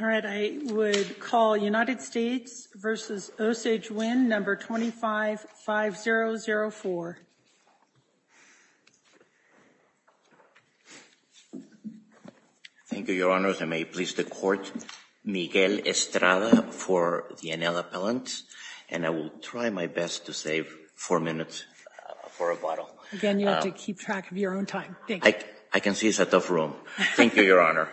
All right, I would call United States v. Osage Wind, number 255004. Thank you, Your Honors, and may it please the Court, Miguel Estrada for the Enel Appellant, and I will try my best to save four minutes for rebuttal. Again, you have to keep track of your own time, thank you. I can see it's a tough room. Thank you, Your Honor.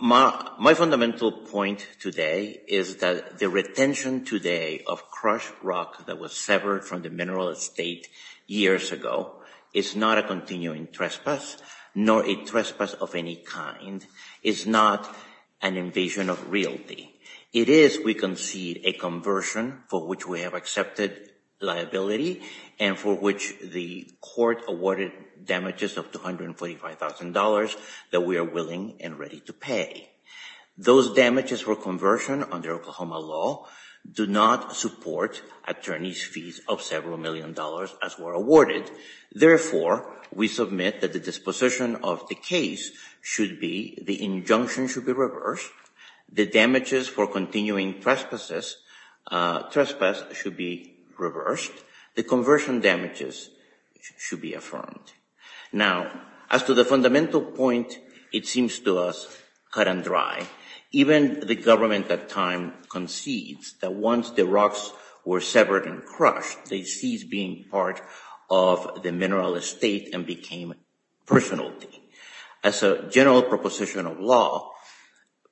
My fundamental point today is that the retention today of crushed rock that was severed from the mineral estate years ago is not a continuing trespass, nor a trespass of any kind. It's not an invasion of realty. It is, we concede, a conversion for which we have accepted liability, and for which the Court awarded damages of $245,000 that we are willing and ready to pay. Those damages for conversion under Oklahoma law do not support attorney's fees of several million dollars as were awarded, therefore, we submit that the disposition of the case should be, the injunction should be reversed, the damages for continuing trespasses, trespass should be reversed, the conversion damages should be affirmed. Now, as to the fundamental point, it seems to us cut and dry. Even the government at time concedes that once the rocks were severed and crushed, they ceased being part of the mineral estate and became personality. As a general proposition of law,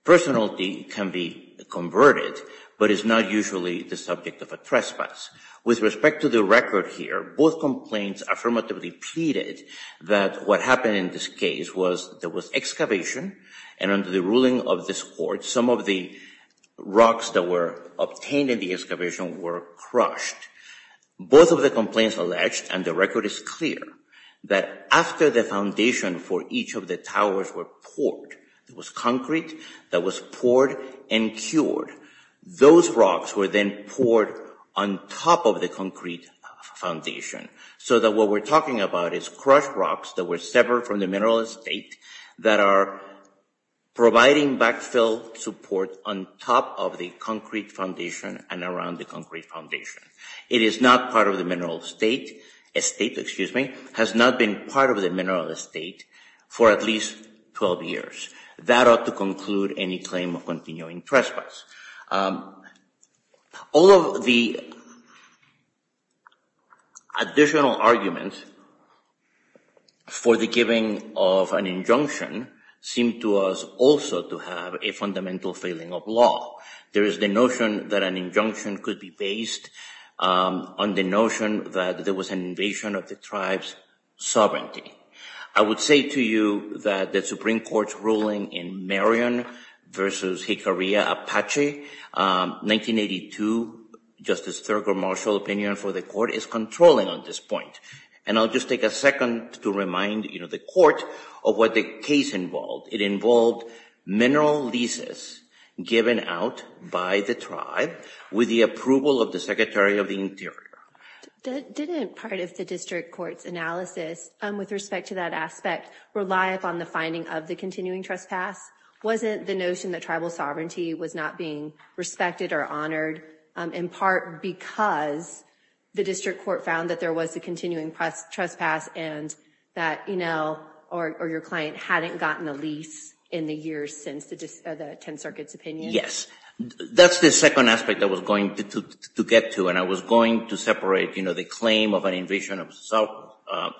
personality can be converted, but it's not usually the subject of a trespass. With respect to the record here, both complaints affirmatively pleaded that what happened in this case was there was excavation, and under the ruling of this Court, some of the rocks that were obtained in the excavation were crushed. Both of the complaints alleged, and the record is clear, that after the foundation for each of the towers were poured there was concrete that was poured and cured, those rocks were then poured on top of the concrete foundation, so that what we're talking about is crushed rocks that were severed from the mineral estate that are providing backfill support on top of the concrete foundation and around the concrete foundation. It is not part of the mineral estate, estate, excuse me, has not been part of the mineral estate for at least 12 years. That ought to conclude any claim of continuing trespass. All of the additional arguments for the giving of an injunction seem to us also to have a fundamental failing of law. There is the notion that an injunction could be based on the notion that there was an invasion of the tribe's sovereignty. I would say to you that the Supreme Court's ruling in Marion versus Jicarilla, Apache, 1982, Justice Thurgood Marshall opinion for the court is controlling on this point. And I'll just take a second to remind the court of what the case involved. It involved mineral leases given out by the tribe with the approval of the Secretary of the Interior. Didn't part of the district court's analysis with respect to that aspect rely upon the finding of the continuing trespass? Wasn't the notion that tribal sovereignty was not being respected or honored in part because the district court found that there was a continuing trespass and that Enel or your client hadn't gotten a lease in the years since the 10th Circuit's opinion? Yes, that's the second aspect I was going to get to. And I was going to separate the claim of an invasion of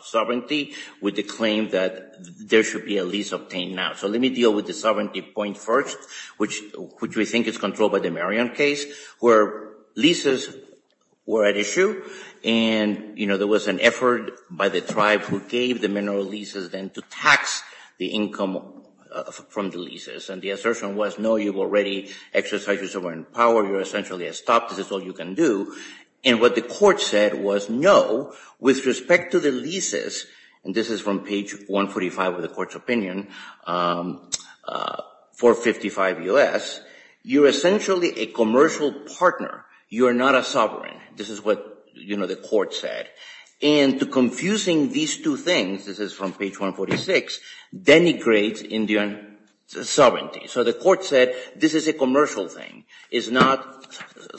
sovereignty with the claim that there should be a lease obtained now. So let me deal with the sovereignty point first, which we think is controlled by the Marion case where leases were at issue and there was an effort by the tribe who gave the mineral leases then to tax the income from the leases. And the assertion was no, you've already exercised your sovereign power, you're essentially a stop, this is all you can do. And what the court said was no, with respect to the leases, and this is from page 145 of the court's opinion, 455 U.S., you're essentially a commercial partner, you are not a sovereign. This is what the court said. And to confusing these two things, this is from page 146, denigrates Indian sovereignty. So the court said this is a commercial thing, it's not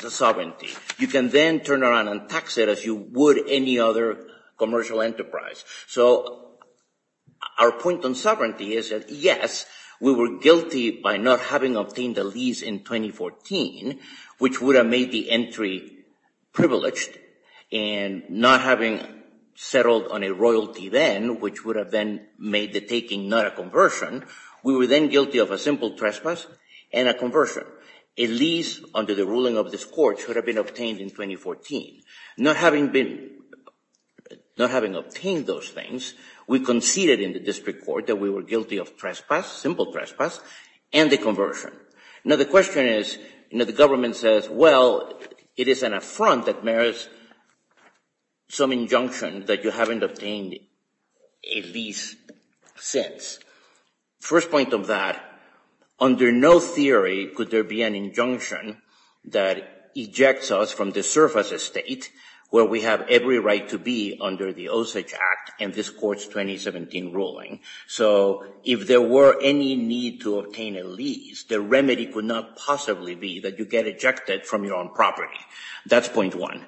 sovereignty. You can then turn around and tax it as you would any other commercial enterprise. So our point on sovereignty is that yes, we were guilty by not having obtained the lease in 2014, which would have made the entry privileged, and not having settled on a royalty then, which would have then made the taking not a conversion, we were then guilty of a simple trespass and a conversion. A lease under the ruling of this court should have been obtained in 2014. Not having obtained those things, we conceded in the district court that we were guilty of simple trespass and a conversion. Now the question is, the government says, well, it is an affront that merits some injunction that you haven't obtained a lease since. First point of that, under no theory could there be an injunction that ejects us from the surface estate where we have every right to be under the Osage Act and this court's 2017 ruling. So if there were any need to obtain a lease, the remedy could not possibly be that you get ejected from your own property. That's point one.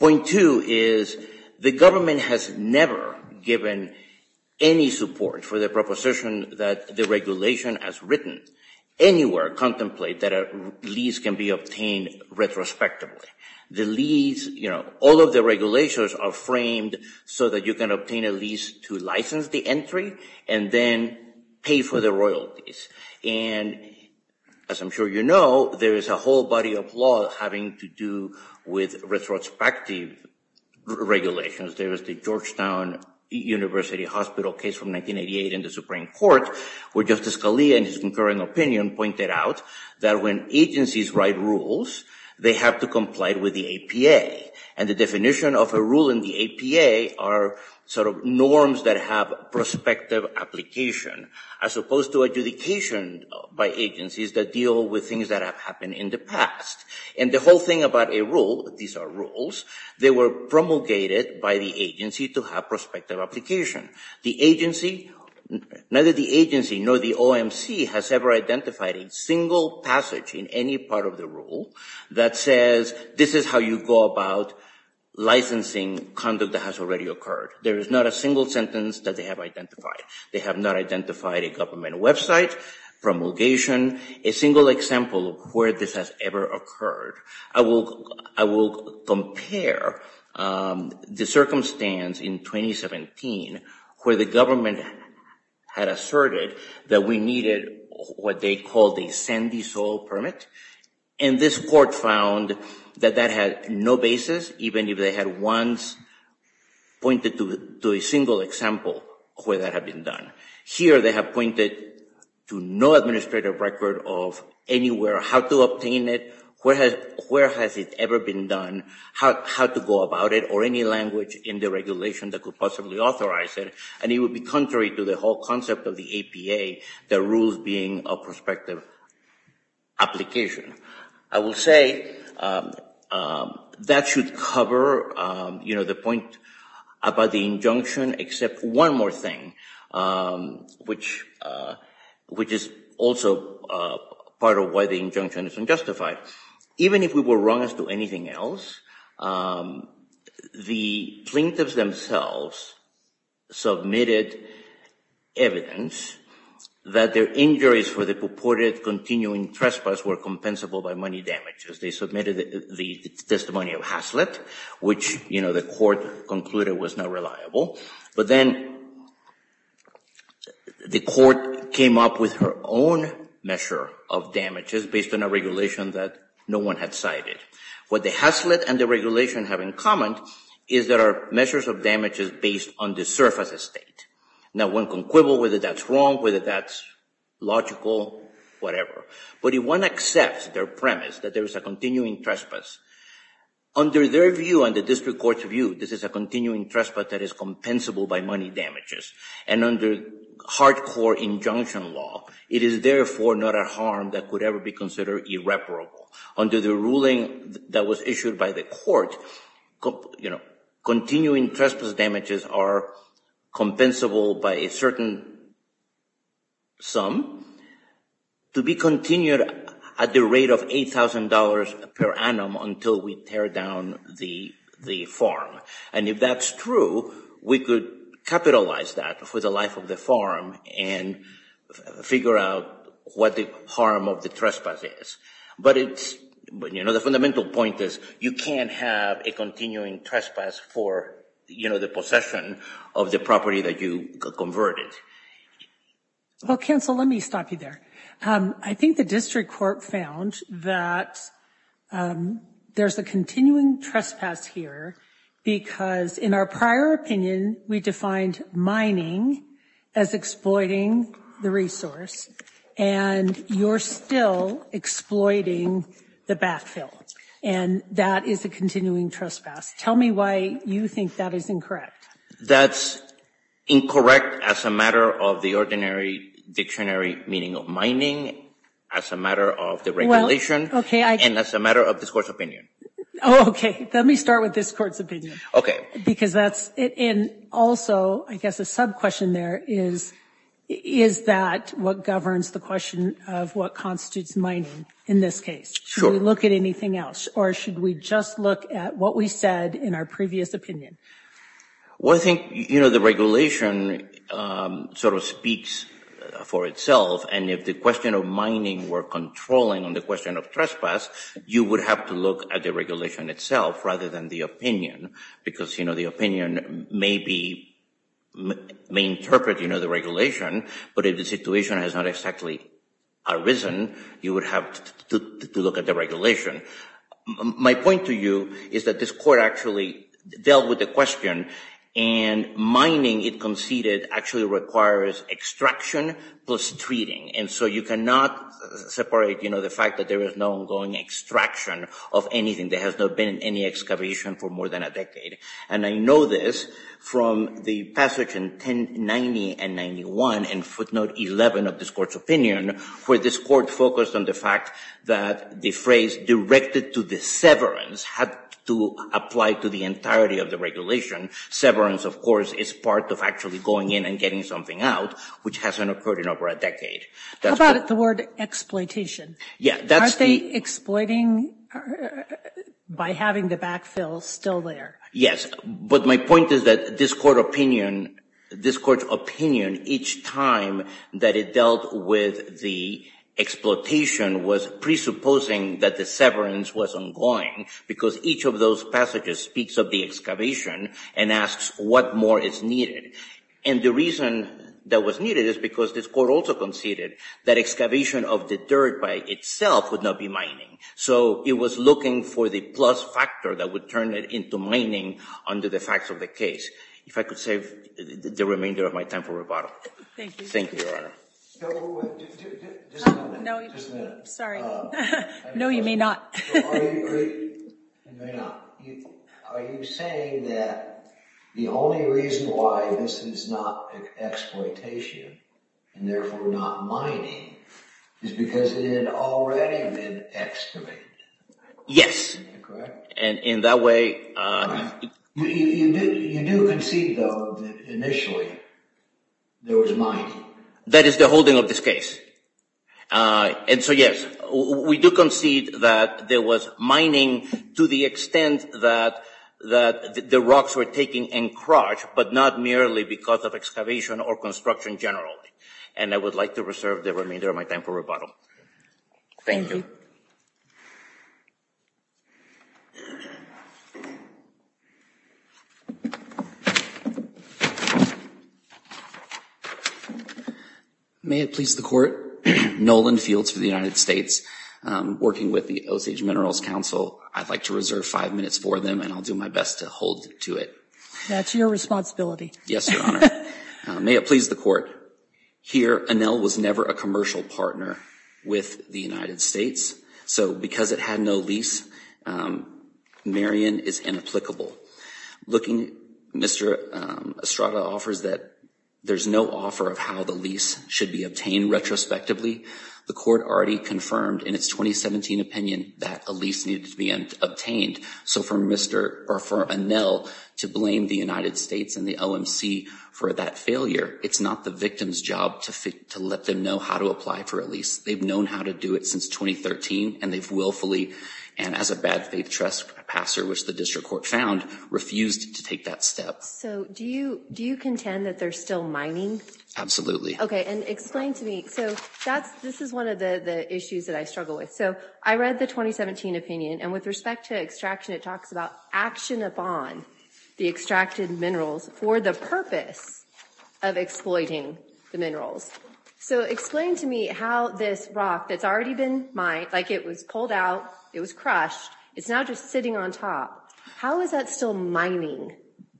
Point two is the government has never given any support for the proposition that the regulation has written. Anywhere contemplate that a lease can be obtained retrospectively. The lease, all of the regulations are framed so that you can obtain a lease to license the entry and then pay for the royalties. And as I'm sure you know, there is a whole body of law having to do with retrospective regulations. There is the Georgetown University Hospital case from 1988 in the Supreme Court where Justice Scalia in his concurring opinion pointed out that when agencies write rules, they have to comply with the APA. And the definition of a rule in the APA are sort of norms that have prospective application as opposed to adjudication by agencies that deal with things that have happened in the past. And the whole thing about a rule, these are rules, they were promulgated by the agency to have prospective application. The agency, neither the agency nor the OMC has ever identified a single passage in any part of the rule that says, this is how you go about licensing conduct that has already occurred. There is not a single sentence that they have identified. They have not identified a government website, promulgation, a single example where this has ever occurred. I will compare the circumstance in 2017 where the government had asserted that we needed what they called a sandy soil permit. And this court found that that had no basis even if they had once pointed to a single example where that had been done. Here they have pointed to no administrative record of anywhere, how to obtain it, where has it ever been done, how to go about it or any language in the regulation that could possibly authorize it. And it would be contrary to the whole concept of the APA, the rules being a prospective application. I will say that should cover the point about the injunction except one more thing, which is also part of why the injunction is unjustified. Even if we were wrong as to anything else, the plaintiffs themselves submitted evidence that their injuries for the purported continuing trespass were compensable by money damages. They submitted the testimony of Haslett, which the court concluded was not reliable. But then the court came up with her own measure of damages based on a regulation that no one had cited. What the Haslett and the regulation have in common is there are measures of damages based on the surface estate. Now one can quibble whether that's wrong, whether that's logical, whatever. But if one accepts their premise that there is a continuing trespass, under their view and the district court's view, this is a continuing trespass that is compensable by money damages. And under hardcore injunction law, it is therefore not a harm that could ever be considered irreparable. Under the ruling that was issued by the court, continuing trespass damages are compensable by a certain sum to be continued at the rate of $8,000 per annum until we tear down the farm. And if that's true, we could capitalize that for the life of the farm and figure out what the harm of the trespass is. But the fundamental point is, you can't have a continuing trespass for the possession of the property that you converted. Well, counsel, let me stop you there. I think the district court found that there's a continuing trespass here because in our prior opinion, we defined mining as exploiting the resource and you're still exploiting the backfill. And that is a continuing trespass. Tell me why you think that is incorrect. That's incorrect as a matter of the ordinary dictionary meaning of mining, as a matter of the regulation, and as a matter of this court's opinion. Oh, okay. Let me start with this court's opinion. Okay. Because that's, and also, I guess a sub-question there is, is that what governs the question of what constitutes mining in this case? Sure. Should we look at anything else or should we just look at what we said in our previous opinion? Well, I think the regulation sort of speaks for itself and if the question of mining were controlling on the question of trespass, you would have to look at the regulation itself rather than the opinion because the opinion may interpret the regulation but if the situation has not exactly arisen, you would have to look at the regulation. My point to you is that this court actually dealt with the question and mining, it conceded, actually requires extraction plus treating. And so you cannot separate the fact that there is no ongoing extraction of anything. There has not been any excavation for more than a decade. And I know this from the passage in 1090 and 91 and footnote 11 of this court's opinion where this court focused on the fact that the phrase directed to the severance had to apply to the entirety of the regulation. Severance, of course, is part of actually going in and getting something out which hasn't occurred in over a decade. How about the word exploitation? Yeah, that's the- By having the backfill still there. Yes, but my point is that this court opinion, this court's opinion each time that it dealt with the exploitation was presupposing that the severance was ongoing because each of those passages speaks of the excavation and asks what more is needed. And the reason that was needed is because this court also conceded that excavation of the dirt by itself would not be mining. So it was looking for the plus factor that would turn it into mining under the facts of the case. If I could save the remainder of my time for rebuttal. Thank you. Thank you, Your Honor. So, just a minute, just a minute. Sorry. No, you may not. No, I agree, I may not. Are you saying that the only reason why this is not exploitation and therefore not mining is because it had already been excavated? Correct? And in that way- Correct. You do concede, though, that initially there was mining. That is the holding of this case. And so, yes, we do concede that there was mining to the extent that the rocks were taken and crushed, but not merely because of excavation or construction generally. And I would like to reserve the remainder of my time for rebuttal. Thank you. May it please the Court. Nolan Fields for the United States. Working with the Osage Minerals Council, I'd like to reserve five minutes for them and I'll do my best to hold to it. That's your responsibility. Yes, Your Honor. May it please the Court. Here, Enel was never a commercial partner with the United States. So because it had no lease, Marion is inapplicable. Looking, Mr. Estrada offers that there's no offer of how the lease should be obtained retrospectively. The Court already confirmed in its 2017 opinion that a lease needed to be obtained. So for Enel to blame the United States and the OMC for that failure, it's not the victim's job to let them know how to apply for a lease. They've known how to do it since 2013 and they've willfully, and as a bad faith trust passer, which the district court found, refused to take that step. So do you contend that they're still mining? Absolutely. Okay, and explain to me, so this is one of the issues that I struggle with. So I read the 2017 opinion and with respect to extraction, it talks about action upon the extracted minerals for the purpose of exploiting the minerals. So explain to me how this rock that's already been mined, like it was pulled out, it was crushed, it's now just sitting on top. How is that still mining?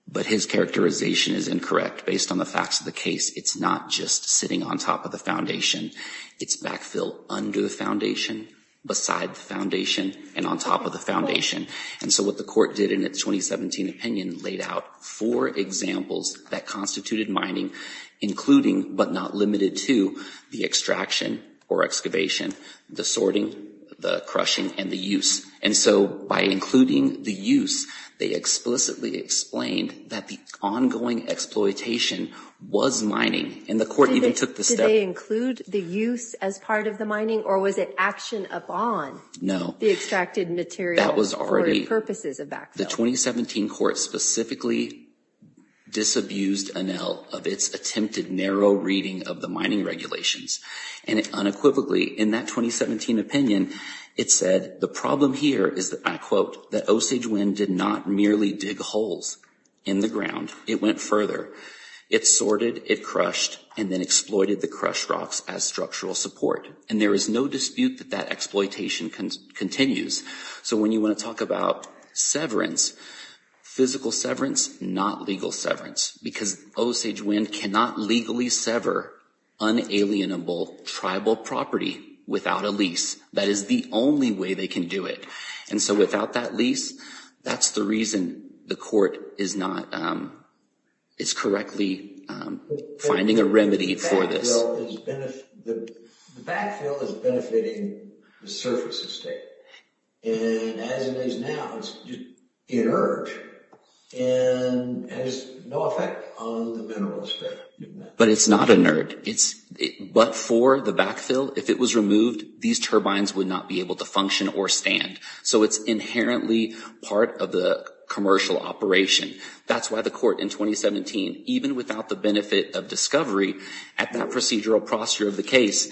But his characterization is incorrect based on the facts of the case. It's not just sitting on top of the foundation. It's backfill under the foundation, beside the foundation, and on top of the foundation. And so what the court did in its 2017 opinion laid out four examples that constituted mining, including but not limited to the extraction or excavation, the sorting, the crushing, and the use. And so by including the use, they explicitly explained that the ongoing exploitation was mining, and the court even took the step. Did they include the use as part of the mining or was it action upon the extracted material for the purposes of backfill? The 2017 court specifically disabused ANEL of its attempted narrow reading of the mining regulations. And unequivocally, in that 2017 opinion, it said the problem here is that, and I quote, that Osage Wind did not merely dig holes in the ground. It went further. It sorted, it crushed, and then exploited the crushed rocks as structural support. And there is no dispute that that exploitation continues. So when you want to talk about severance, physical severance, not legal severance, because Osage Wind cannot legally sever unalienable tribal property without a lease. That is the only way they can do it. And so without that lease, that's the reason the court is not, is correctly finding a remedy for this. The backfill is benefiting the surface estate. And as it is now, it's just inert. And has no effect on the mineral sphere. But it's not inert. But for the backfill, if it was removed, these turbines would not be able to function or stand. So it's inherently part of the commercial operation. That's why the court in 2017, even without the benefit of discovery at that procedural procedure of the case,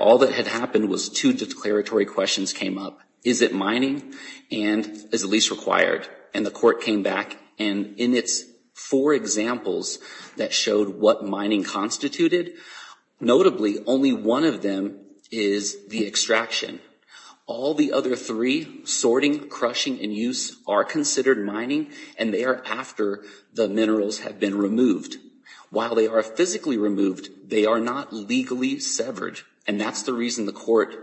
all that had happened was two declaratory questions came up. Is it mining? And is a lease required? And the court came back. And in its four examples that showed what mining constituted, notably only one of them is the extraction. All the other three, sorting, crushing, and use are considered mining. And they are after the minerals have been removed. While they are physically removed, they are not legally severed. And that's the reason the court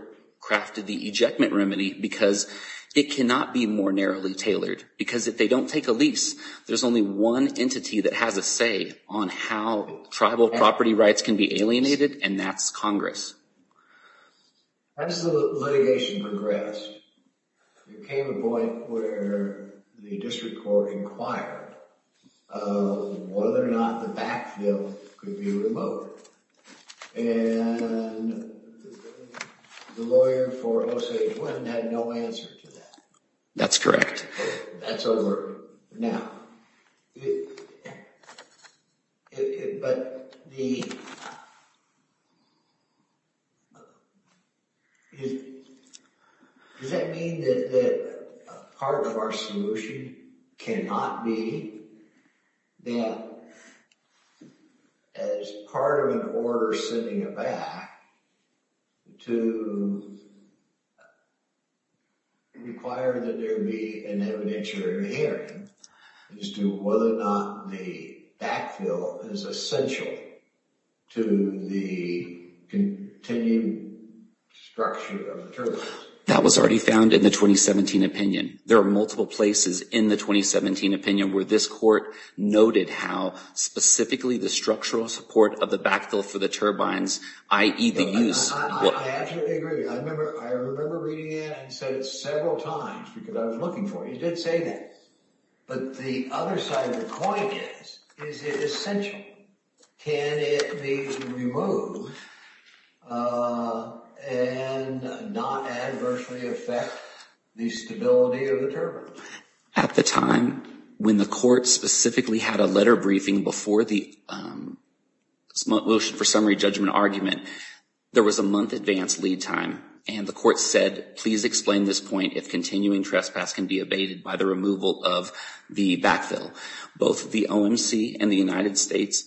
crafted the ejectment remedy because it cannot be more narrowly tailored. Because if they don't take a lease, there's only one entity that has a say on how tribal property rights can be alienated, and that's Congress. As the litigation progressed, there came a point where the district court inquired whether or not the backfill could be removed. And the lawyer for Jose Gwinn had no answer to that. That's correct. That's over now. But the... Does that mean that part of our solution cannot be that as part of an order sending it back to require that there be an evidentiary hearing as to whether or not the backfill is essential to the continued structure of the term? That was already found in the 2017 opinion. There are multiple places in the 2017 opinion where this court noted how specifically the structural support of the backfill for the turbines, i.e. the use- I absolutely agree. I remember reading it and said it several times because I was looking for it. He did say that. But the other side of the coin is, is it essential? Can it be removed and not adversely affect the stability of the turbine? At the time, when the court specifically had a letter briefing before the motion for summary judgment argument, there was a month advance lead time. And the court said, please explain this point if continuing trespass can be abated by the removal of the backfill. Both the OMC and the United States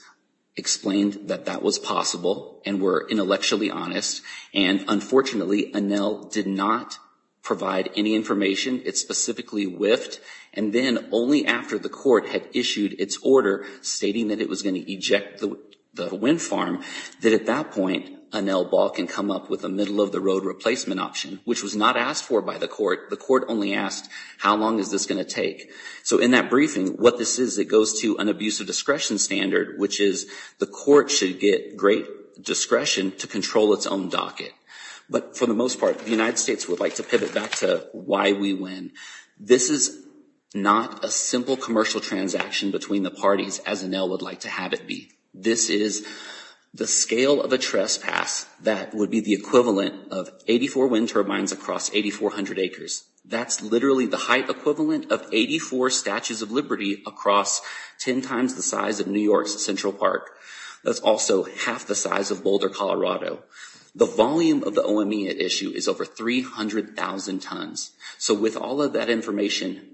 explained that that was possible and were intellectually honest. And unfortunately, ANEL did not provide any information. It specifically whiffed. And then only after the court had issued its order stating that it was gonna eject the wind farm, that at that point, ANEL ball can come up with a middle-of-the-road replacement option, which was not asked for by the court. The court only asked, how long is this gonna take? So in that briefing, what this is, it goes to an abuse of discretion standard, which is the court should get great discretion to control its own docket. But for the most part, the United States would like to pivot back to why we win. This is not a simple commercial transaction between the parties as ANEL would like to have it be. This is the scale of a trespass that would be the equivalent of 84 wind turbines across 8,400 acres. That's literally the height equivalent of 84 Statues of Liberty across 10 times the size of New York's Central Park. That's also half the size of Boulder, Colorado. The volume of the OMEA issue is over 300,000 tons. So with all of that information,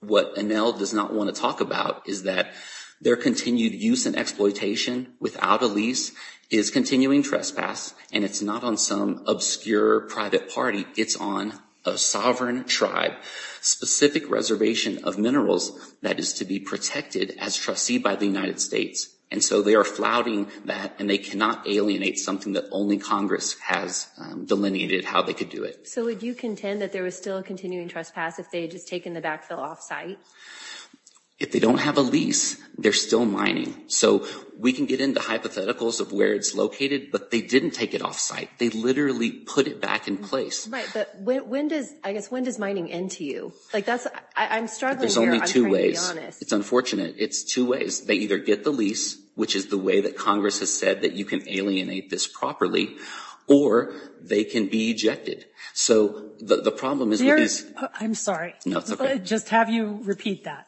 what ANEL does not wanna talk about is that their continued use and exploitation without a lease is continuing trespass, and it's not on some obscure private party. It's on a sovereign tribe, specific reservation of minerals that is to be protected as trustee by the United States. And so they are flouting that, and they cannot alienate something that only Congress has delineated how they could do it. So would you contend that there was still a continuing trespass if they had just taken the backfill off-site? If they don't have a lease, they're still mining. So we can get into hypotheticals of where it's located, but they didn't take it off-site. They literally put it back in place. Right, but when does, I guess, when does mining end to you? Like that's, I'm struggling here. There's only two ways. I'm trying to be honest. It's unfortunate. It's two ways. They either get the lease, which is the way that Congress has said that you can alienate this properly, or they can be ejected. So the problem is with this. I'm sorry. No, it's okay. Just have you repeat that.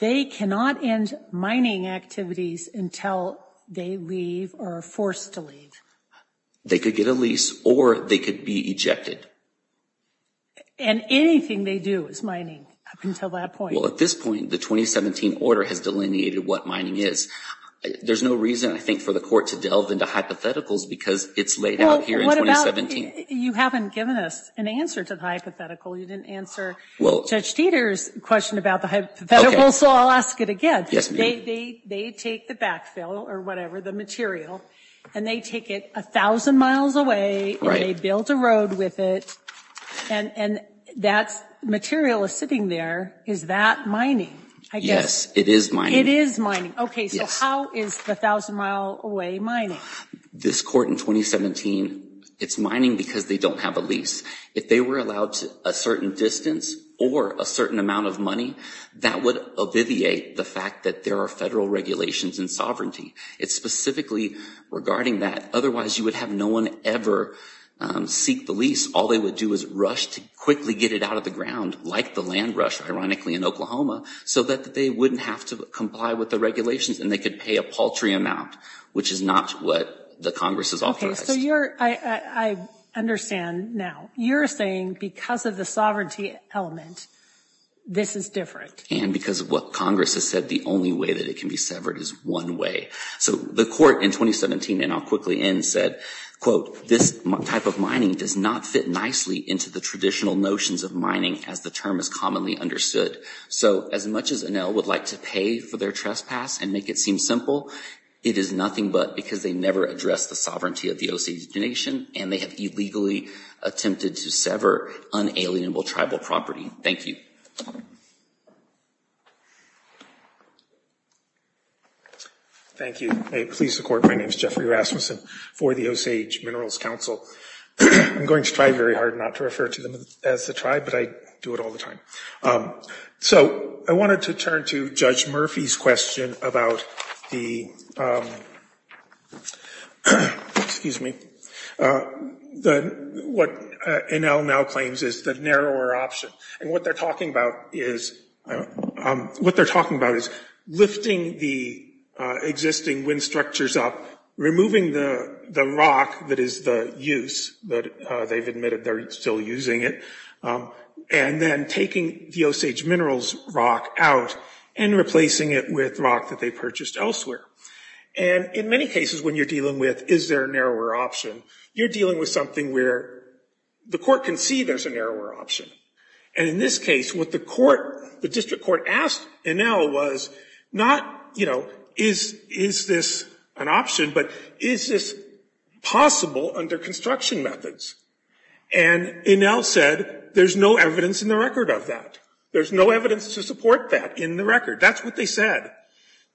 They cannot end mining activities until they leave or are forced to leave. They could get a lease or they could be ejected. And anything they do is mining up until that point. Well, at this point, the 2017 order has delineated what mining is. There's no reason, I think, for the court to delve into hypotheticals because it's laid out here in 2017. You haven't given us an answer to the hypothetical. You didn't answer Judge Dieter's question about the hypothetical, so I'll ask it again. Yes, ma'am. They take the backfill or whatever, the material, and they take it 1,000 miles away and they build a road with it, and that material is sitting there. Is that mining? Yes, it is mining. It is mining. Okay, so how is the 1,000 mile away mining? This court in 2017, it's mining because they don't have a lease. If they were allowed a certain distance or a certain amount of money, that would obviate the fact that there are federal regulations and sovereignty. It's specifically regarding that. Otherwise, you would have no one ever seek the lease. All they would do is rush to quickly get it out of the ground, like the land rush, ironically, in Oklahoma, so that they wouldn't have to comply with the regulations and they could pay a paltry amount, which is not what the Congress has authorized. Okay, so I understand now. You're saying because of the sovereignty element, this is different. And because of what Congress has said, the only way that it can be severed is one way. So the court in 2017, and I'll quickly end, said, quote, this type of mining does not fit nicely into the traditional notions of mining as the term is commonly understood. So as much as Enel would like to pay for their trespass and make it seem simple, it is nothing but because they never addressed the sovereignty of the Osage Nation and they have illegally attempted to sever unalienable tribal property. Thank you. Thank you. May it please the court, my name's Jeffrey Rasmussen. For the Osage Minerals Council, I'm going to try very hard not to refer to them as the tribe, but I do it all the time. So I wanted to turn to Judge Murphy's question about the, excuse me, what Enel now claims is the narrower option. And what they're talking about is, what they're talking about is lifting the existing wind structures up, removing the rock that is the use that they've admitted they're still using it, and then taking the Osage Minerals rock out and replacing it with rock that they purchased elsewhere. And in many cases, when you're dealing with, is there a narrower option, you're dealing with something where the court can see there's a narrower option. And in this case, what the court, the district court asked Enel was not, is this an option, but is this possible under construction methods? And Enel said, there's no evidence in the record of that. There's no evidence to support that in the record. That's what they said.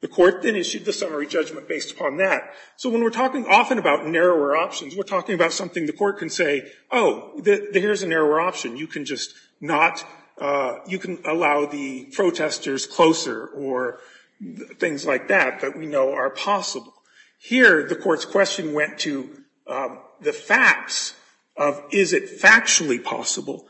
The court then issued the summary judgment based upon that. So when we're talking often about narrower options, we're talking about something the court can say, oh, there's a narrower option. You can just not, you can allow the protesters closer or things like that that we know are possible. Here, the court's question went to the facts of is it factually possible?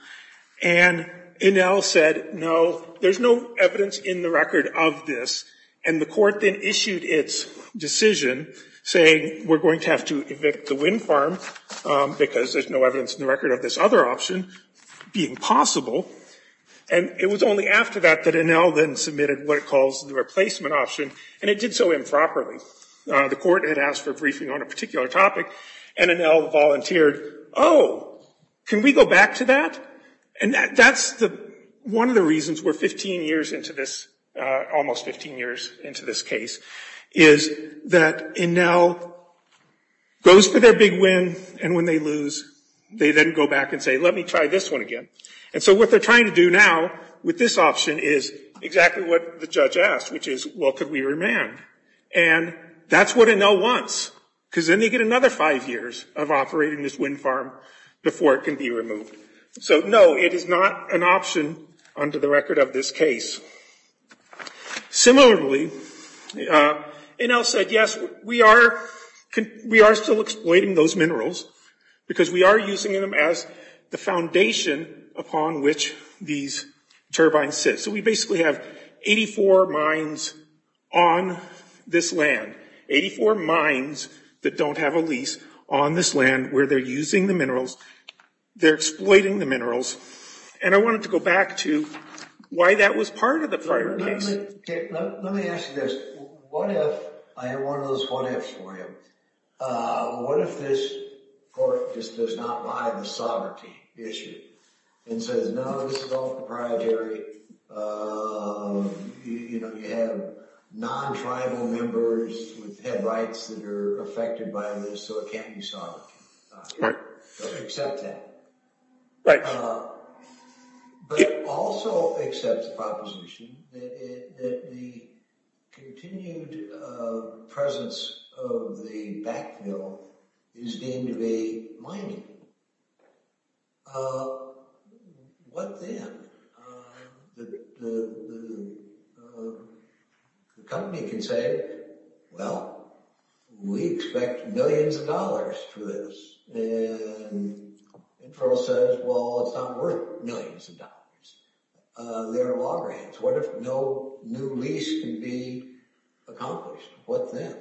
And Enel said, no, there's no evidence in the record of this. And the court then issued its decision saying, we're going to have to evict the wind farm because there's no evidence in the record of this other option being possible. And it was only after that that Enel then submitted what it calls the replacement option, and it did so improperly. The court had asked for a briefing on a particular topic, and Enel volunteered, oh, can we go back to that? And that's one of the reasons we're 15 years into this, almost 15 years into this case, is that Enel goes for their big win, and when they lose, they then go back and say, let me try this one again. And so what they're trying to do now with this option is exactly what the judge asked, which is, well, could we remand? And that's what Enel wants, because then they get another five years of operating this wind farm before it can be removed. So no, it is not an option under the record of this case. Similarly, Enel said, yes, we are still exploiting those minerals because we are using them as the foundation upon which these turbines sit. So we basically have 84 mines on this land, 84 mines that don't have a lease on this land where they're using the minerals, they're exploiting the minerals, and I wanted to go back to why that was part of the prior case. Let me ask you this. What if, I have one of those what ifs for you, what if this court just does not buy the sovereignty issue and says, no, this is all proprietary, you have non-tribal members with head rights that are affected by this, so it can't be solved? Right. Accept that. Right. But also accept the proposition that the continued presence of the backfill is deemed to be mining. What then? The company can say, well, we expect millions of dollars for this, and Enferno says, well, it's not worth millions of dollars. There are law grants. What if no new lease can be accomplished? What then?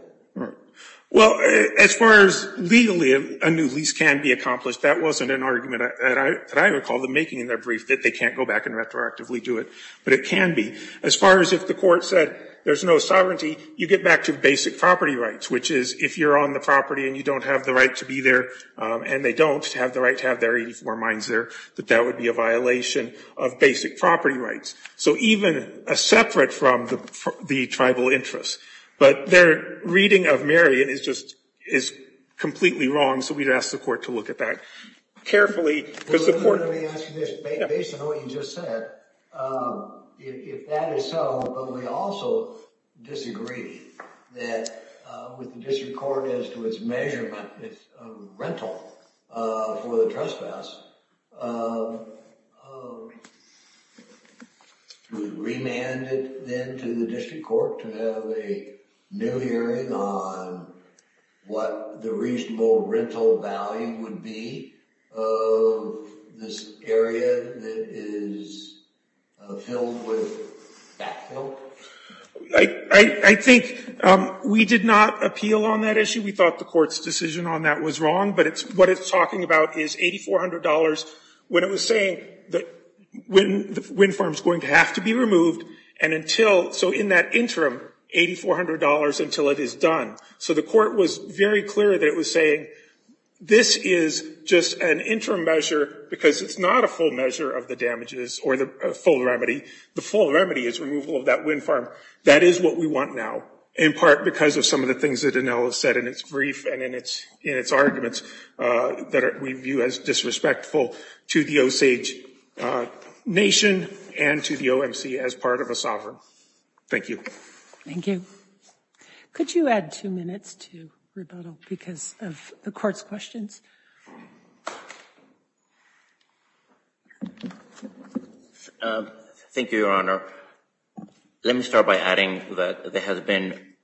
Well, as far as legally a new lease can be accomplished, that wasn't an argument that I recall them making in their brief that they can't go back and retroactively do it, but it can be. As far as if the court said there's no sovereignty, you get back to basic property rights, which is if you're on the property and you don't have the right to be there, and they don't have the right to have their 84 mines there, that that would be a violation of basic property rights. So even separate from the tribal interests, but their reading of Marion is just completely wrong, so we'd ask the court to look at that carefully. Because the court- Let me ask you this. Based on what you just said, if that is so, but we also disagree that with the district court as to its measurement of rental for the trespass, we remand it then to the district court to have a new hearing on what the reasonable rental value would be of this area that is filled with backfill? I think we did not appeal on that issue. We thought the court's decision on that was wrong, but what it's talking about is $8,400 when it was saying that the wind farm's going to have to be removed, and until, so in that interim, $8,400 until it is done. So the court was very clear that it was saying this is just an interim measure, because it's not a full measure of the damages or the full remedy. The full remedy is removal of that wind farm. That is what we want now, in part because of some of the things that Danelle has said in its brief and in its arguments that we view as disrespectful to the Osage nation and to the OMC as part of a sovereign. Thank you. Thank you. Could you add two minutes to rebuttal because of the court's questions? Thank you, Your Honor. Let me start by adding that there has been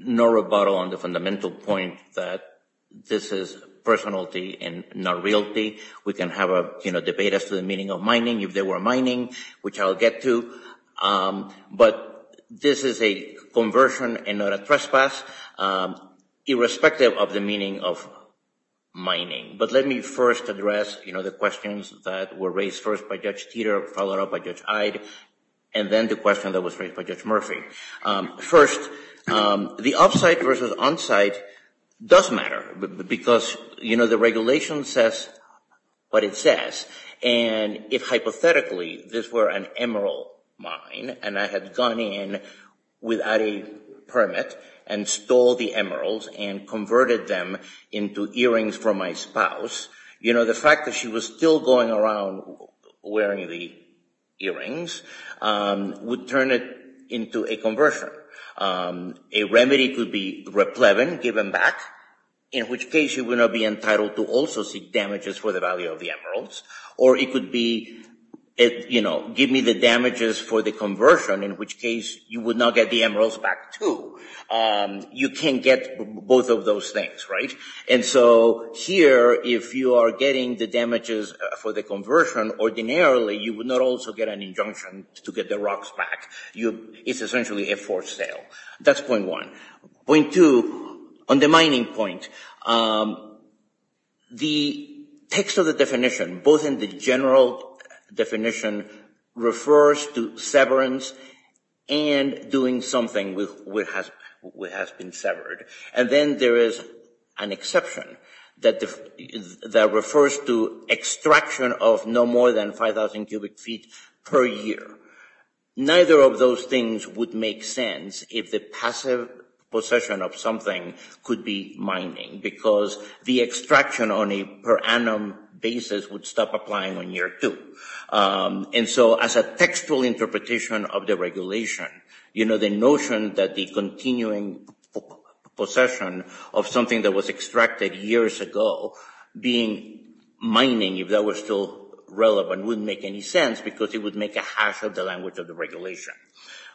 no rebuttal on the fundamental point that this is personality and not realty. We can have a debate as to the meaning of mining if there were mining, which I'll get to, but this is a conversion and not a trespass, irrespective of the meaning of mining. But let me first address the questions that were raised first by Judge Teeter, followed up by Judge Ide, and then the question that was raised by Judge Murphy. First, the off-site versus on-site does matter because the regulation says what it says, and if hypothetically this were an emerald mine and I had gone in without a permit and stole the emeralds and converted them into earrings for my spouse, you know, the fact that she was still going around wearing the earrings would turn it into a conversion. A remedy could be replevin given back, in which case you would not be entitled to also seek damages for the value of the emeralds, or it could be give me the damages for the conversion, in which case you would not get the emeralds back too. You can't get both of those things, right? And so here, if you are getting the damages for the conversion, ordinarily you would not also get an injunction to get the rocks back. It's essentially a forced sale. That's point one. Point two, on the mining point, the text of the definition, both in the general definition, refers to severance and doing something which has been severed, and then there is an exception that refers to extraction of no more than 5,000 cubic feet per year. Neither of those things would make sense if the passive possession of something could be mining because the extraction on a per annum basis would stop applying on year two. And so as a textual interpretation of the regulation, the notion that the continuing possession of something that was extracted years ago being mining, if that were still relevant, wouldn't make any sense because it would make a hash of the language of the regulation.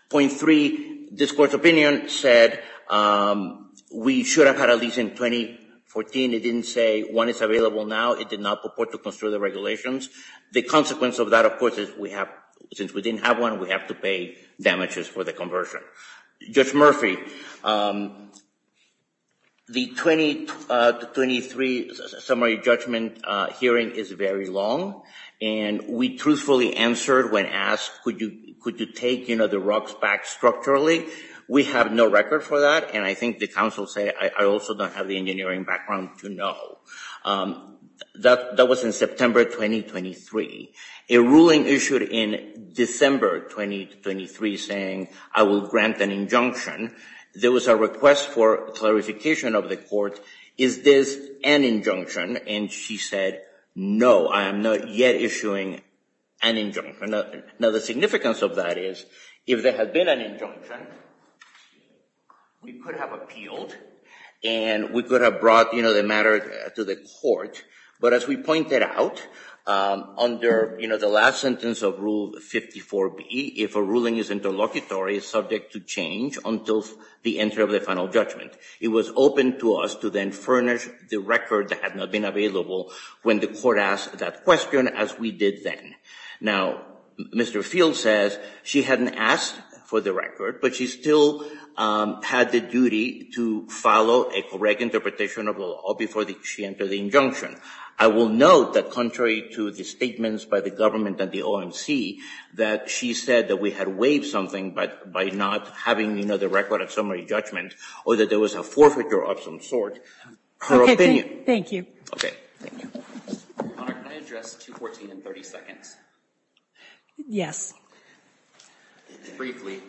Point three, this court's opinion said that we should have had a lease in 2014. It didn't say when it's available now. It did not purport to construe the regulations. The consequence of that, of course, is we have, since we didn't have one, we have to pay damages for the conversion. Judge Murphy, the 2023 summary judgment hearing is very long, and we truthfully answered when asked could you take the rocks back structurally. We have no record for that, and I think the counsel say I also don't have the engineering background to know. That was in September 2023. A ruling issued in December 2023 saying I will grant an injunction. There was a request for clarification of the court. Is this an injunction? And she said no, I am not yet issuing an injunction. Now the significance of that is if there had been an injunction, we could have appealed, and we could have brought the matter to the court, but as we pointed out, under the last sentence of Rule 54B, if a ruling is interlocutory, it's subject to change until the entry of the final judgment. It was open to us to then furnish the record that had not been available when the court asked that question as we did then. Now, Mr. Field says she hadn't asked for the record, but she still had the duty to follow a correct interpretation of the law before she entered the injunction. I will note that contrary to the statements by the government and the OMC, that she said that we had waived something by not having the record of summary judgment, or that there was a forfeiture of some sort. Her opinion. Thank you. Okay, thank you. Your Honor, can I address 214 in 30 seconds? Yes. Briefly.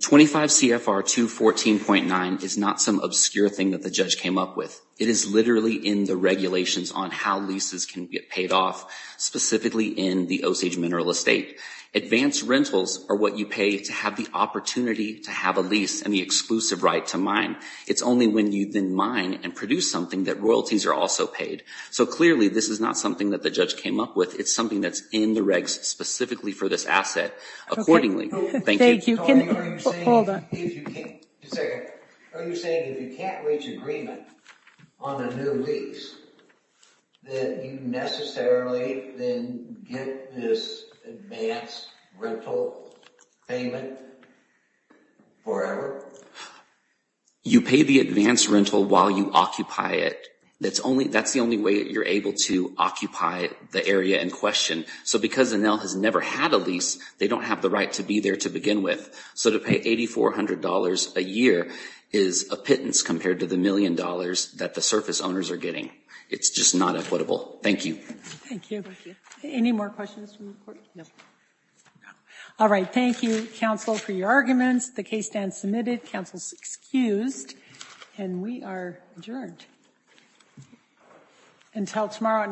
25 CFR 214.9 is not some obscure thing that the judge came up with. It is literally in the regulations on how leases can get paid off, specifically in the Osage Mineral Estate. Advanced rentals are what you pay to have the opportunity to have a lease and the exclusive right to mine. It's only when you then mine and produce something that royalties are also paid. So clearly, this is not something that the judge came up with. It's something that's in the regs specifically for this asset accordingly. Thank you. Hold on. Are you saying if you can't reach agreement on a new lease that you necessarily then get this advanced rental payment forever? Forever? You pay the advanced rental while you occupy it. That's the only way that you're able to occupy the area in question. So because Enel has never had a lease, they don't have the right to be there to begin with. So to pay $8,400 a year is a pittance compared to the million dollars that the surface owners are getting. It's just not equitable. Thank you. Thank you. Any more questions from the Court? No. All right. Thank you, counsel, for your arguments. The case stands submitted. Counsel's excused. And we are adjourned. Until tomorrow night.